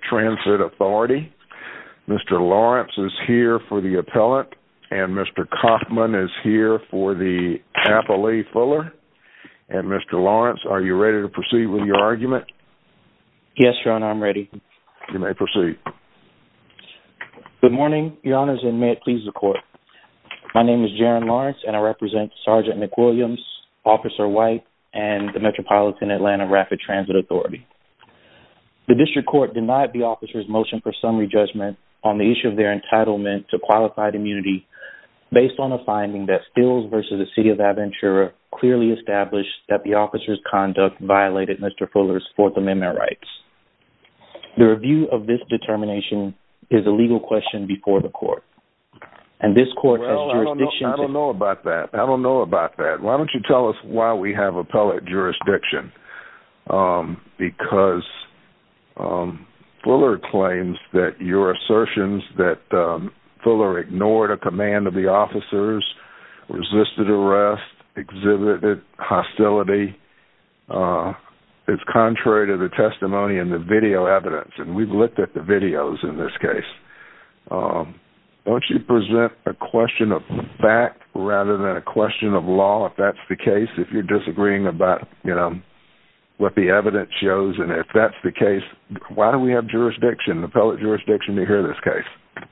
Transit Authority. Mr. Lawrence is here for the appellant and Mr. Kaufman is here for the appellee Fuller. And Mr. Lawrence, are you ready to proceed with your argument? Yes, Your Honor, I'm ready. You may proceed. Good morning, Your Honors, and may it please the Court. My name is Jaron Lawrence and I serve under the jurisdiction of McWilliams, Officer White, and the Metropolitan Atlanta Rapid Transit Authority. The District Court denied the officers' motion for summary judgment on the issue of their entitlement to qualified immunity based on a finding that Stills v. the City of Aventura clearly established that the officers' conduct violated Mr. Fuller's Fourth Amendment rights. The review of this determination is a legal question before the Court, and this Court has jurisdiction to- Why don't you tell us why we have appellate jurisdiction? Because Fuller claims that your assertions that Fuller ignored a command of the officers, resisted arrest, exhibited hostility, is contrary to the testimony and the video evidence. And we've looked at the videos in this case. Why don't you present a question of fact rather than a question of law, if that's the case, if you're disagreeing about, you know, what the evidence shows. And if that's the case, why do we have jurisdiction, appellate jurisdiction, to hear this case?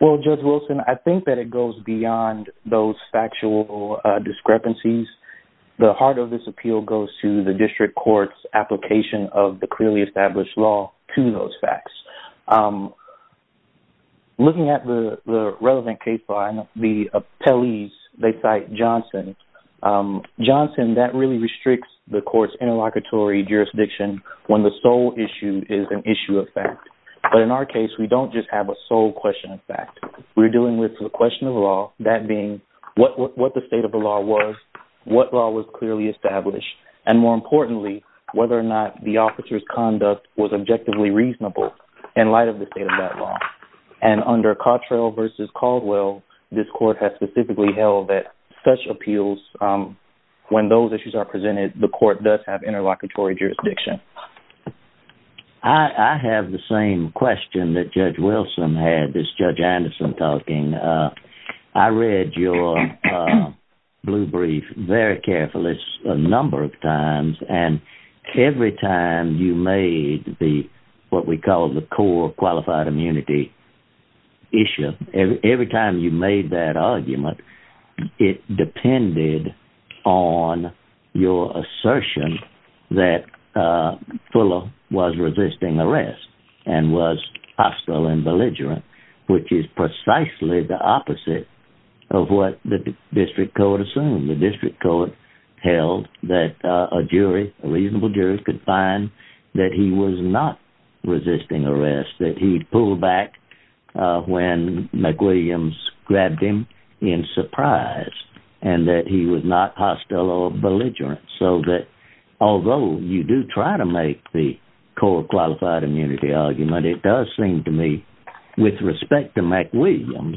Well, Judge Wilson, I think that it goes beyond those factual discrepancies. The heart of this appeal goes to the District Court's application of the clearly established law to those facts. Looking at the relevant case file, the appellees, they cite Johnson. Johnson, that really restricts the Court's interlocutory jurisdiction when the sole issue is an issue of fact. But in our case, we don't just have a sole question of fact. We're dealing with the question of law, that being what the state of the law was, what law was clearly established, and more importantly, whether or not the officer's conduct was objectively reasonable in light of the state of that law. And under Cottrell v. Caldwell, this Court has specifically held that such appeals, when those issues are presented, the Court does have interlocutory jurisdiction. I have the same question that Judge Wilson had, this Judge Anderson talking. I read your blue brief very carefully a number of times, and every time you made the, what we call the core qualified immunity issue, every time you made that argument, it depended on your assertion that Fuller was resisting arrest and was hostile and belligerent, which is precisely the opposite of what the District Court assumed. The District Court held that a jury, a reasonable jury, could find that he was not resisting arrest, that he'd pull back when McWilliams grabbed him in surprise, and that he was not hostile or belligerent. So that although you do try to make the core qualified immunity argument, it does seem to me, with respect to McWilliams,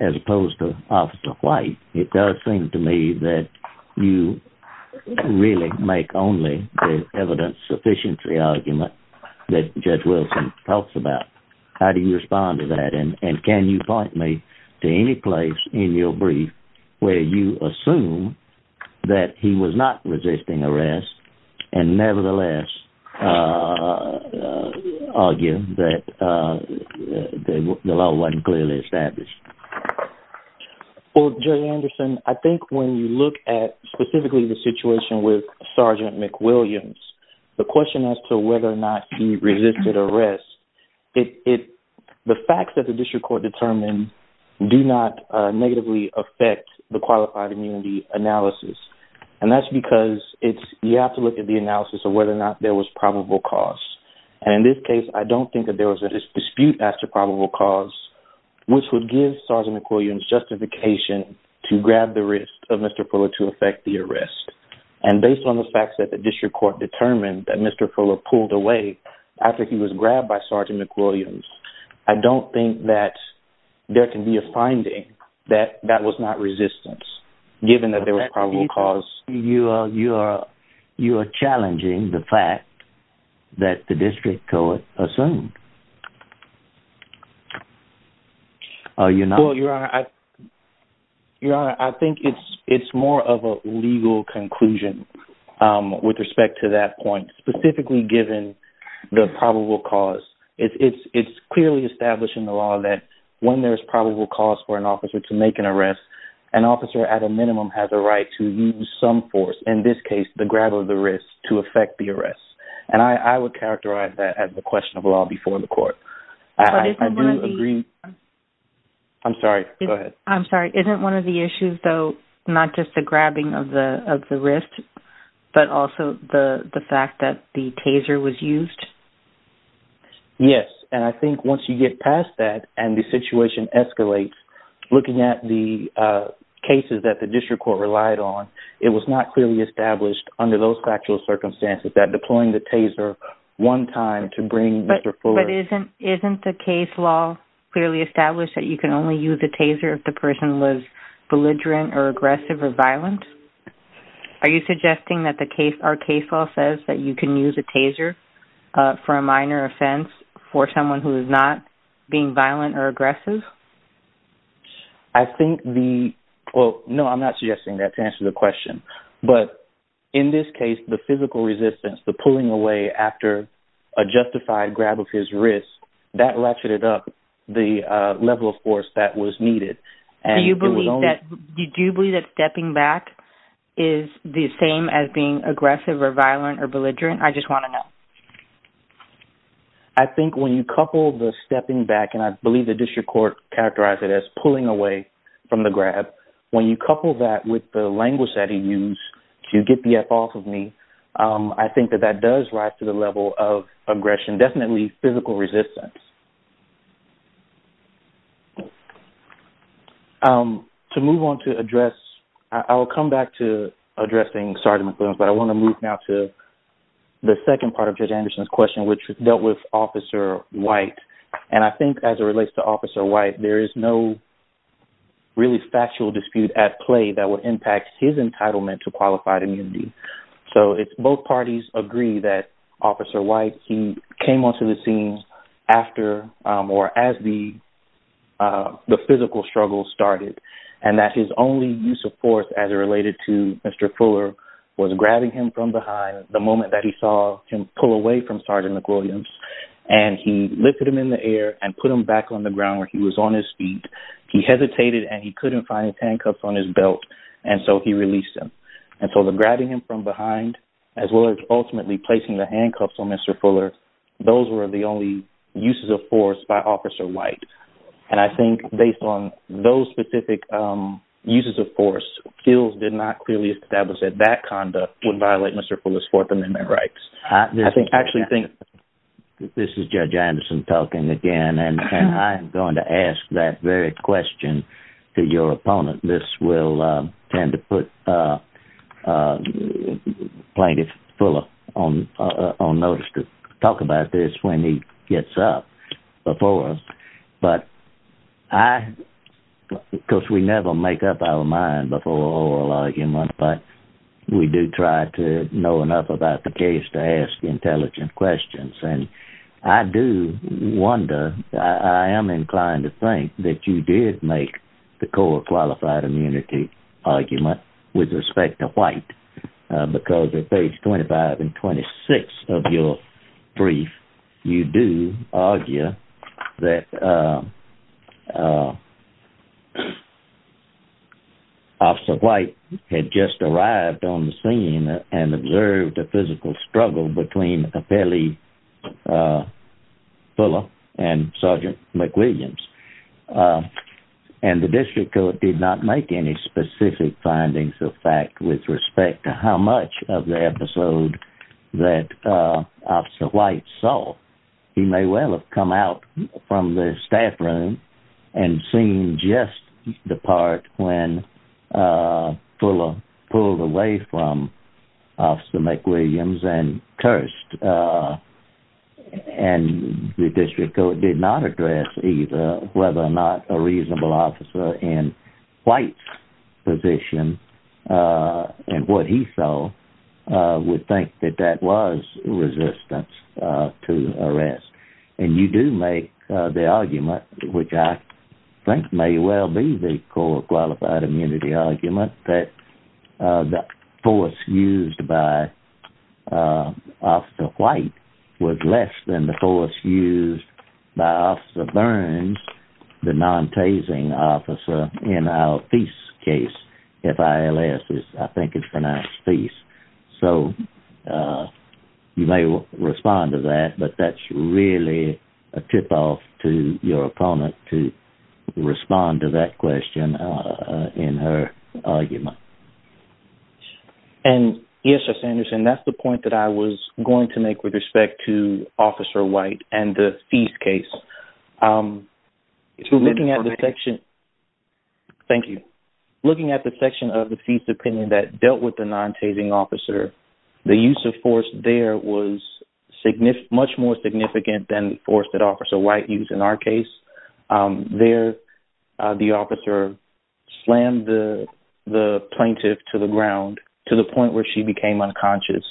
as opposed to Officer White, it does seem to me that you really make only the evidence sufficiently argument that Judge Wilson talks about. How do you respond to that? And can you point me to any place in your brief where you assume that he was not resisting arrest and was hostile? Well, Gerry Anderson, I think when you look at specifically the situation with Sergeant McWilliams, the question as to whether or not he resisted arrest, the facts that the District Court determined do not negatively affect the qualified immunity analysis. And that's because you have to look at the analysis of whether or not there was probable cause. And in this case, I don't think that there was a dispute as to probable cause, which would give Sergeant McWilliams justification to grab the wrist of Mr. Fuller to effect the arrest. And based on the facts that the District Court determined that Mr. Fuller pulled away after he was grabbed by Sergeant McWilliams, I don't think that there can be a finding that that was not resistance, given that there was probable cause. You are challenging the fact that the District Court assumed. Well, Your Honor, I think it's more of a legal conclusion with respect to that point, specifically given the probable cause. It's clearly established in the law that when there's probable cause for an officer to make an arrest, an officer at a minimum has right to use some force, in this case, the grab of the wrist to effect the arrest. And I would characterize that as a question of law before the court. I do agree. I'm sorry. Go ahead. I'm sorry. Isn't one of the issues, though, not just the grabbing of the wrist, but also the fact that the taser was used? Yes. And I think once you get past that and the situation escalates, looking at the cases that District Court relied on, it was not clearly established under those factual circumstances that deploying the taser one time to bring Mr. Fuller... But isn't the case law clearly established that you can only use a taser if the person was belligerent or aggressive or violent? Are you suggesting that our case law says that you can use a taser for a minor offense for someone who is not being violent or aggressive? I think the... Well, no, I'm not suggesting that to answer the question. But in this case, the physical resistance, the pulling away after a justified grab of his wrist, that latched it up, the level of force that was needed. And it was only... Do you believe that stepping back is the same as being aggressive or violent or belligerent? I just want to know. I think when you couple the stepping back, and I believe the District Court characterized it as pulling away from the grab, when you couple that with the language that he used to get the F off of me, I think that that does rise to the level of aggression, definitely physical resistance. To move on to address... I'll come back to addressing... Sorry, Mr. Williams, I want to move now to the second part of Judge Anderson's question, which dealt with Officer White. And I think as it relates to Officer White, there is no really factual dispute at play that would impact his entitlement to qualified immunity. So it's both parties agree that Officer White, he came onto the scene after or as the physical struggle started, and that his only use of force as it related to Mr. Fuller was grabbing him from behind the moment that he saw him pull away from Sergeant McWilliams, and he lifted him in the air and put him back on the ground where he was on his feet. He hesitated and he couldn't find his handcuffs on his belt, and so he released him. And so the grabbing him from behind, as well as ultimately placing the handcuffs on Mr. Fuller, those were the only uses of force by Officer White. And I think based on those specific uses of force, fields did not clearly establish that that conduct would violate Mr. Fuller's Fourth Amendment rights. I actually think... This is Judge Anderson talking again, and I'm going to ask that very question to your opponent. This will tend to put Plaintiff Fuller on notice to talk about this when he gets up before us. But I... Because we never make up our mind before oral argument, but we do try to know enough about the case to ask intelligent questions. And I do wonder, I am inclined to think that you did make the core qualified immunity argument with respect to White, because at page 25 and 26 of your brief, you do argue that Officer White had just arrived on the scene and observed a physical struggle between Apelli Fuller and Sergeant McWilliams. And the district court did not make any specific findings of fact with respect to how much of the episode that Officer White saw. He may well have come out from the staff room and seen just the part when Fuller pulled away from Officer McWilliams and cursed. And the district court did not address either whether or not a and what he saw would think that that was resistance to arrest. And you do make the argument, which I think may well be the core qualified immunity argument, that the force used by Officer White was less than the force used by Officer Burns, the non-tasing officer in our case, F-I-L-S. I think it's pronounced F-E-A-C-E. So you may respond to that, but that's really a tip off to your opponent to respond to that question in her argument. And yes, Mr. Anderson, that's the point that I was going to make with respect to Officer White and the F-E-A-C-E case. If you're looking at the section... Thank you. Looking at the section of the FISA opinion that dealt with the non-tasing officer, the use of force there was much more significant than the force that Officer White used in our case. There, the officer slammed the plaintiff to the ground to the point where she became F-I-L-S.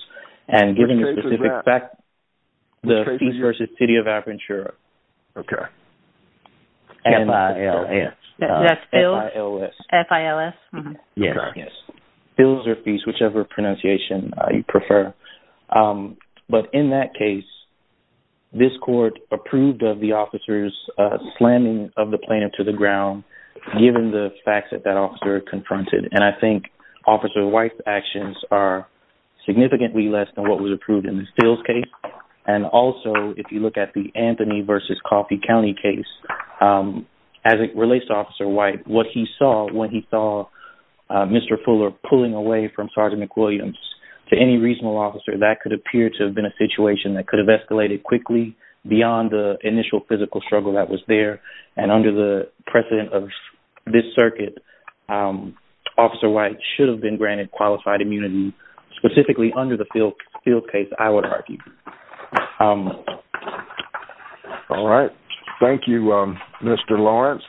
F-I-L-S. Yes. Fils-or-feis, whichever pronunciation you prefer. But in that case, this court approved of the officer's slamming of the plaintiff to the ground, given the facts that that officer confronted. And I think Officer White's actions are significantly less than what was approved in the Fils case. And also, if you look at the Anthony v. Coffey County case, as it relates to Officer White, what he saw when he saw Mr. Fuller pulling away from Sergeant McWilliams to any reasonable officer, that could appear to have been a situation that could have escalated quickly beyond the initial physical struggle that was there. And under the precedent of this circuit, Officer White should have been granted qualified immunity, specifically under the Fils case, I would argue. All right. Thank you, Mr. Lawrence.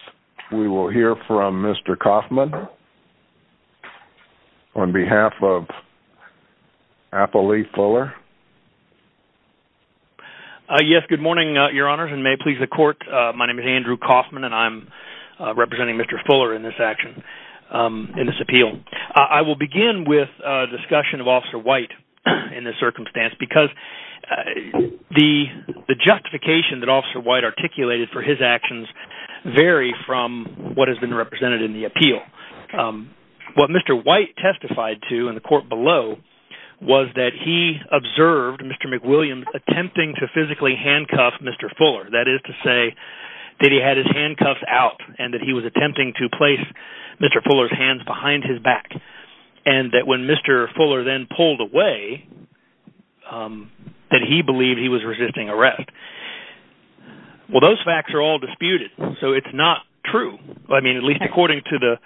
We will hear from Mr. Coffman on behalf of Apple Lee Fuller. Yes. Good morning, Your Honors, and may it please the court. My name is Andrew Coffman, and I'm representing Mr. Fuller in this action, in this appeal. I will begin with a discussion of Officer White in this circumstance, because the justification that Officer White articulated for his actions vary from what has been represented in the appeal. What Mr. White testified to in the court below was that he observed Mr. McWilliams attempting to physically handcuff Mr. Fuller. That is to say that he had his handcuffs out, and that he was attempting to place Mr. Fuller's his back, and that when Mr. Fuller then pulled away, that he believed he was resisting arrest. Well, those facts are all disputed, so it's not true. I mean, at least according to the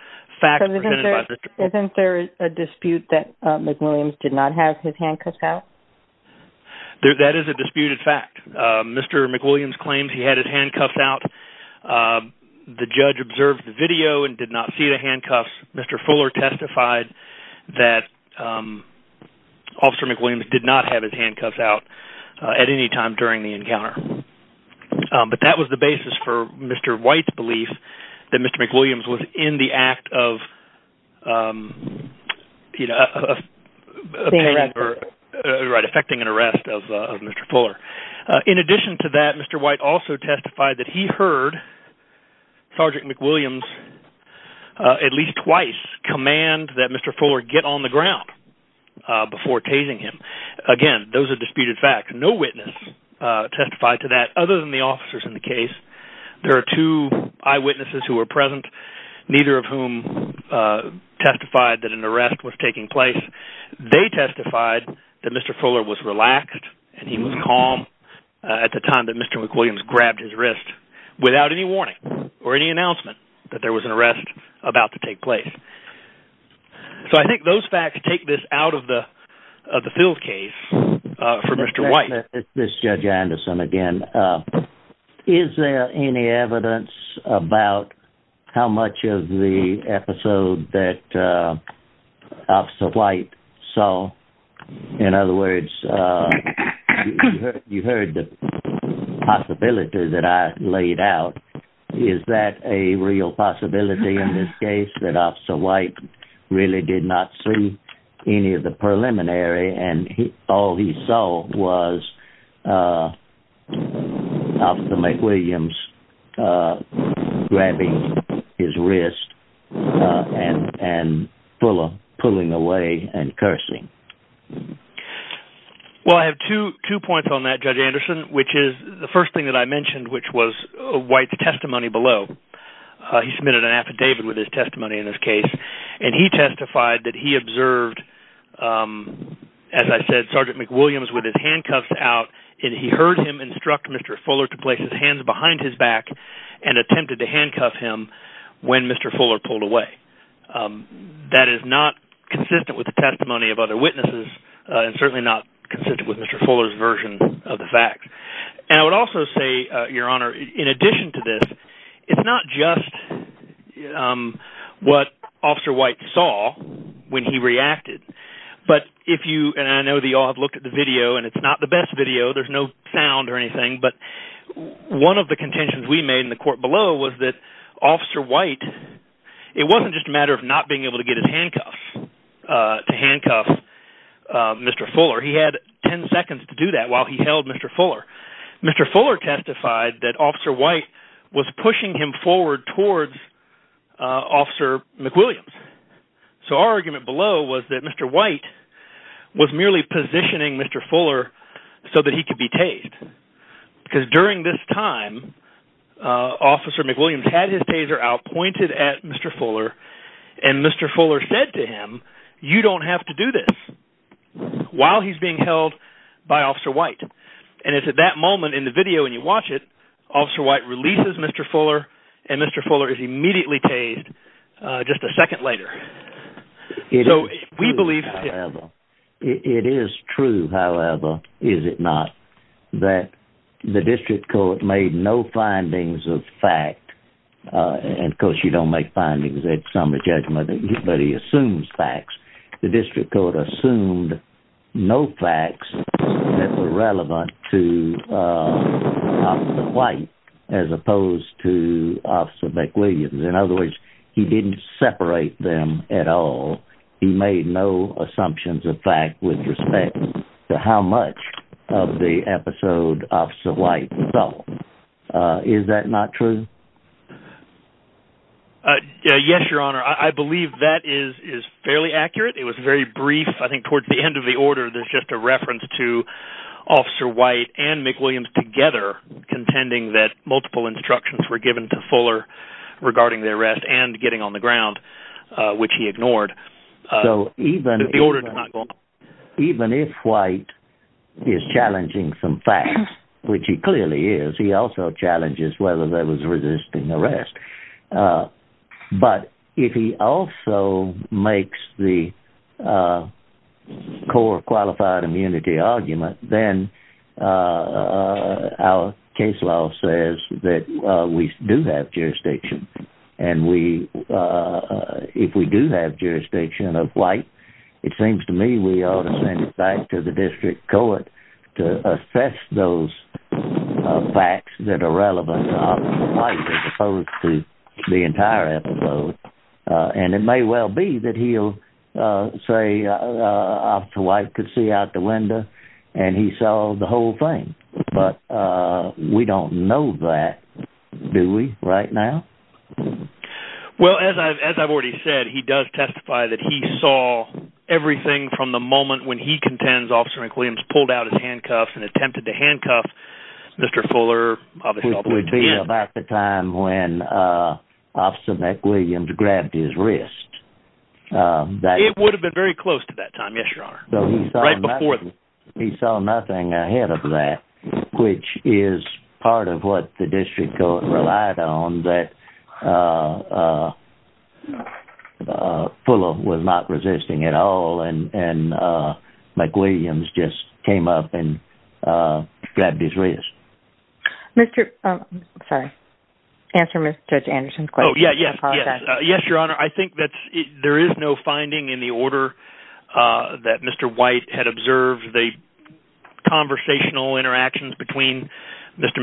facts presented by Mr. Fuller. Isn't there a dispute that McWilliams did not have his handcuffs out? That is a disputed fact. Mr. McWilliams claims he had his handcuffs out. The judge observed the video and did not see the handcuffs. Mr. Fuller testified that Officer McWilliams did not have his handcuffs out at any time during the encounter. But that was the basis for Mr. White's belief that Mr. McWilliams was in the act of being arrested. Right, affecting an arrest of Mr. Fuller. In addition to that, Mr. White also testified that he heard Sergeant McWilliams at least twice command that Mr. Fuller get on the ground before tasing him. Again, those are disputed facts. No witness testified to that other than officers in the case. There are two eyewitnesses who were present, neither of whom testified that an arrest was taking place. They testified that Mr. Fuller was relaxed and he was calm at the time that Mr. McWilliams grabbed his wrist without any warning or any announcement that there was an arrest about to take place. So I think those facts take this out of the field case for Mr. White. This is Judge Anderson again. Is there any evidence about how much of the episode that Officer White saw? In other words, you heard the possibility that I laid out. Is that a real possibility in this case that Officer White really did not see any of the officer McWilliams grabbing his wrist and Fuller pulling away and cursing? Well, I have two points on that, Judge Anderson, which is the first thing that I mentioned, which was White's testimony below. He submitted an affidavit with his testimony in this case, and he testified that he observed, as I said, Sergeant McWilliams with his handcuffs out, and he heard him instruct Mr. Fuller to place his hands behind his back and attempted to handcuff him when Mr. Fuller pulled away. That is not consistent with the testimony of other witnesses and certainly not consistent with Mr. Fuller's version of the facts. And I would also say, Your Honor, in addition to this, it's not just what Officer White saw when he reacted, but if you, and I know that you all have looked at the video, and it's not the best video, there's no sound or anything, but one of the contentions we made in the court below was that Officer White, it wasn't just a matter of not being able to get his handcuffs, to handcuff Mr. Fuller. He had 10 seconds to do that while he held Mr. Fuller. Mr. Fuller testified that Officer White was pushing him forward towards Officer McWilliams. So our argument below was that Mr. White was merely positioning Mr. Fuller so that he could be tased. Because during this time, Officer McWilliams had his taser out, pointed at Mr. Fuller, and Mr. Fuller said to him, you don't have to do this, while he's being held by Officer McWilliams. At that moment in the video when you watch it, Officer White releases Mr. Fuller, and Mr. Fuller is immediately tased just a second later. So we believe... It is true, however, is it not, that the district court made no findings of fact, and of course you don't make findings at summary judgment, but he assumes facts. The district court assumed no facts that were relevant to Officer White, as opposed to Officer McWilliams. In other words, he didn't separate them at all. He made no assumptions of fact with respect to how much of the episode Officer White felt. Is that not true? Yes, Your Honor. I believe that is fairly accurate. It was very brief. I think towards the end of the order, there's just a reference to Officer White and McWilliams together contending that multiple instructions were given to Fuller regarding the arrest and getting on the ground, which he ignored. The order did not go on. Even if White is challenging some facts, which he clearly is, he also challenges whether there was resisting arrest. But if he also makes the core qualified immunity argument, then our case law says that we do have jurisdiction, and if we do have jurisdiction of White, it seems to me we ought to send it back to the district court to assess those facts that are opposed to the entire episode. And it may well be that he'll say Officer White could see out the window and he saw the whole thing. But we don't know that, do we, right now? Well, as I've already said, he does testify that he saw everything from the moment when he contends Officer McWilliams pulled out his handcuffs and attempted to handcuff Mr. Fuller all the way to the end. Which would be about the time when Officer McWilliams grabbed his wrist. It would have been very close to that time, yes, Your Honor. Right before that. He saw nothing ahead of that, which is part of what the district court relied on, that Mr. Fuller was not resisting at all, and McWilliams just came up and grabbed his wrist. Sorry, answer Judge Anderson's question. Oh, yes, Your Honor. I think that there is no finding in the order that Mr. White had observed the conversational interactions between Officer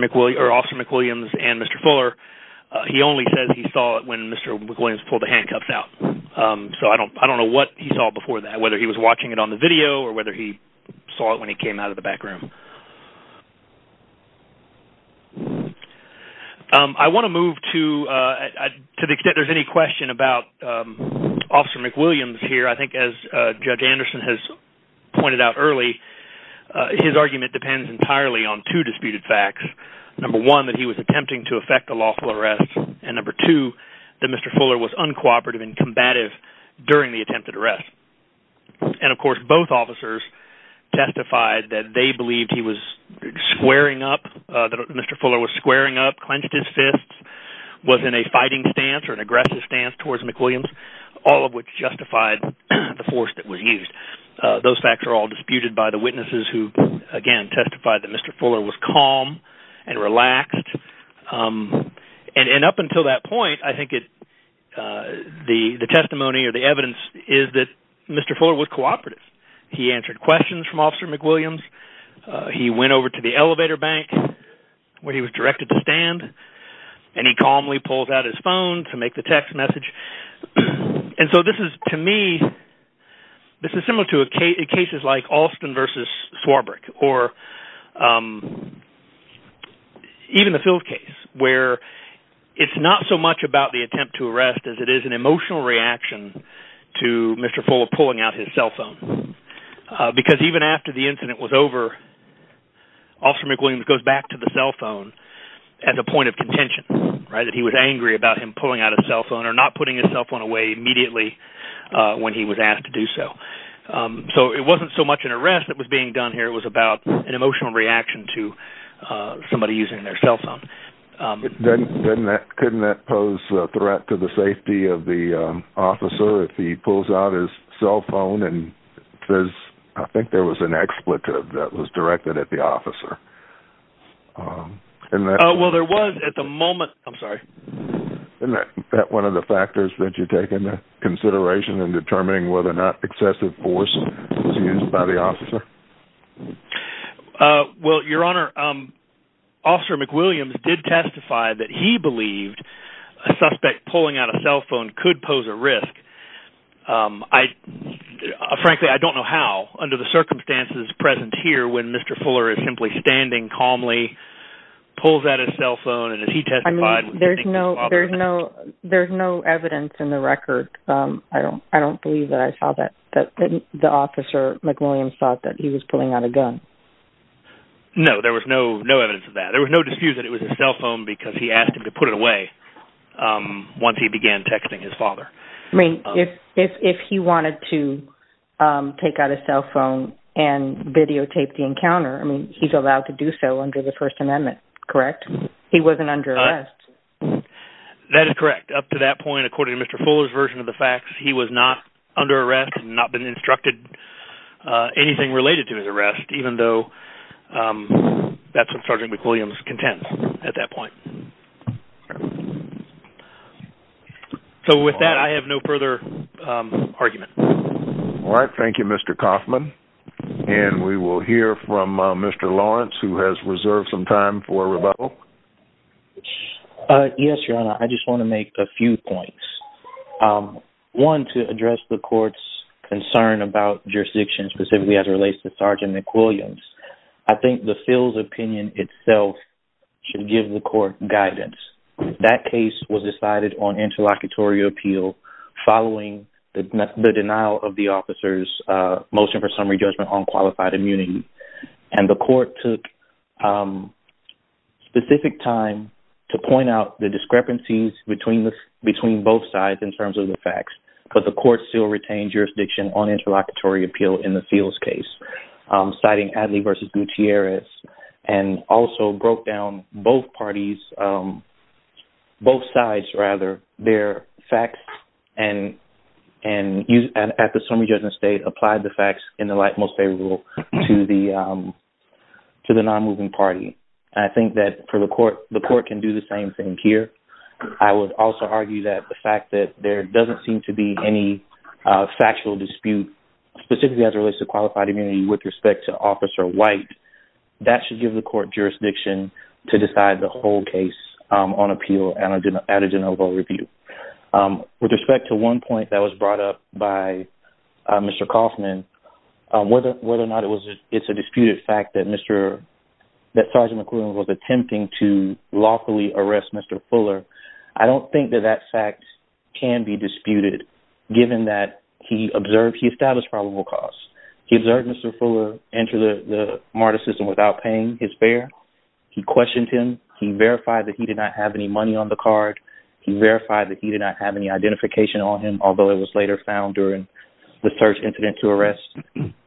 McWilliams and Mr. Fuller. He only says he saw when Mr. McWilliams pulled the handcuffs out. So I don't know what he saw before that, whether he was watching it on the video or whether he saw it when he came out of the back room. I want to move to, to the extent there's any question about Officer McWilliams here, I think as Judge Anderson has pointed out early, his argument depends entirely on two disputed facts. Number one, that he was attempting to effect a lawful arrest, and number two, that Mr. Fuller was uncooperative and combative during the attempted arrest. And of course, both officers testified that they believed he was squaring up, that Mr. Fuller was squaring up, clenched his fists, was in a fighting stance or an aggressive stance towards McWilliams, all of which justified the force that was used. Those facts are all disputed by the witnesses who, again, testified that Mr. Fuller was calm and relaxed. And up until that point, I think it, the testimony or the evidence is that Mr. Fuller was cooperative. He answered questions from Officer McWilliams. He went over to the elevator bank where he was directed to stand, and he calmly pulled out his phone to make the text message. And so this is, to me, this is similar cases like Alston versus Swarbrick, or even the Field case, where it's not so much about the attempt to arrest as it is an emotional reaction to Mr. Fuller pulling out his cell phone. Because even after the incident was over, Officer McWilliams goes back to the cell phone at the point of contention, right, that he was angry about him pulling out his cell phone or putting his cell phone away immediately when he was asked to do so. So it wasn't so much an arrest that was being done here. It was about an emotional reaction to somebody using their cell phone. Couldn't that pose a threat to the safety of the officer if he pulls out his cell phone and says, I think there was an expletive that was directed at the officer? Well, there was at the moment. I'm sorry. Isn't that one of the factors that you take into consideration in determining whether or not excessive force was used by the officer? Well, Your Honor, Officer McWilliams did testify that he believed a suspect pulling out a cell phone could pose a risk. Frankly, I don't know how, under the circumstances present here, when Mr. Fuller is simply standing calmly, pulls out his cell phone, and he testified. There's no evidence in the record. I don't believe that I saw that the officer McWilliams thought that he was pulling out a gun. No, there was no evidence of that. There was no dispute that it was his cell phone because he asked him to put it away once he began texting his father. I mean, if he wanted to take out his cell phone and videotape the encounter, he's allowed to do so under the First Amendment, correct? He wasn't under arrest. That is correct. Up to that point, according to Mr. Fuller's version of the facts, he was not under arrest and not been instructed anything related to his arrest, even though that's what Sergeant McWilliams contends at that point. Okay. So with that, I have no further argument. All right. Thank you, Mr. Kaufman. And we will hear from Mr. Lawrence, who has reserved some time for rebuttal. Yes, Your Honor. I just want to make a few points. One, to address the court's concern about jurisdiction, specifically as it relates to Sergeant McWilliams. I think the field's opinion itself should give the court guidance. That case was decided on interlocutory appeal following the denial of the officer's motion for summary judgment on qualified immunity. And the court took specific time to point out the discrepancies between both sides in terms of the facts. But the court still retained jurisdiction on interlocutory appeal in the case. The court also broke down both parties, both sides rather, their facts and at the summary judgment state, applied the facts in the light most favorable to the non-moving party. I think that for the court, the court can do the same thing here. I would also argue that the fact that there doesn't seem to be any factual dispute, specifically as it relates to qualified immunity with respect to Officer White, that should give the court jurisdiction to decide the whole case on appeal at a de novo review. With respect to one point that was brought up by Mr. Kaufman, whether or not it's a disputed fact that Sergeant McWilliams was attempting to lawfully arrest Mr. Fuller, I don't think that that fact can be disputed, given that he established probable cause. He observed Mr. Fuller enter the MARTA system without paying his fare. He questioned him. He verified that he did not have any money on the card. He verified that he did not have any identification on him, although it was later found during the search incident to arrest.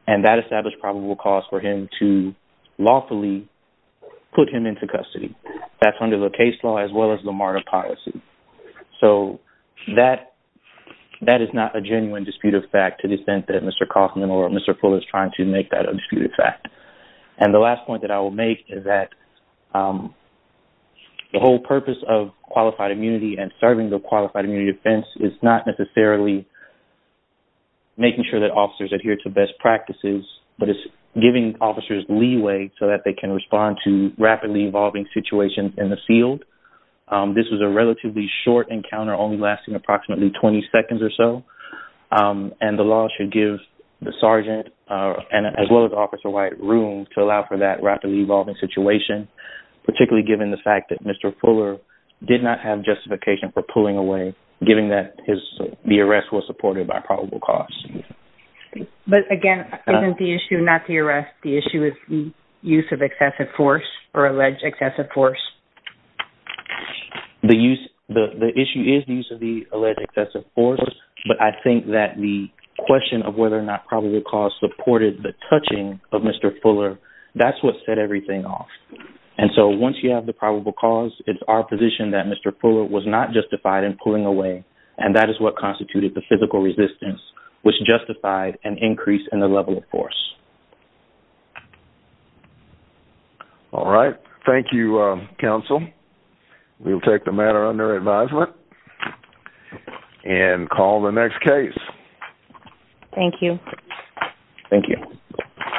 And that established probable cause for him to lawfully put him into custody. That's under the case law as well as the MARTA policy. So that is not a genuine dispute of fact to the extent that Mr. Kaufman or Mr. Fuller is trying to make that a disputed fact. And the last point that I will make is that the whole purpose of qualified immunity and serving the qualified immunity defense is not necessarily making sure that officers adhere to best practices, but it's giving officers leeway so that they can respond to rapidly evolving situations in the field. This was a relatively short encounter, only lasting approximately 20 seconds or so, and the law should give the sergeant, as well as Officer White, room to allow for that rapidly evolving situation, particularly given the fact that Mr. Fuller did not have justification for pulling away, given that the arrest was supported by probable cause. But again, isn't the issue not the arrest? The issue is the use of excessive force or alleged excessive force. The issue is the use of the alleged excessive force, but I think that the question of whether or not probable cause supported the touching of Mr. Fuller, that's what set everything off. And so once you have the probable cause, it's our position that Mr. Fuller was not justified in pulling away, and that is what constituted the physical resistance, which justified an increase in the level of force. All right. Thank you, Counsel. We'll take the matter under advisement. And call the next case. Thank you. Thank you.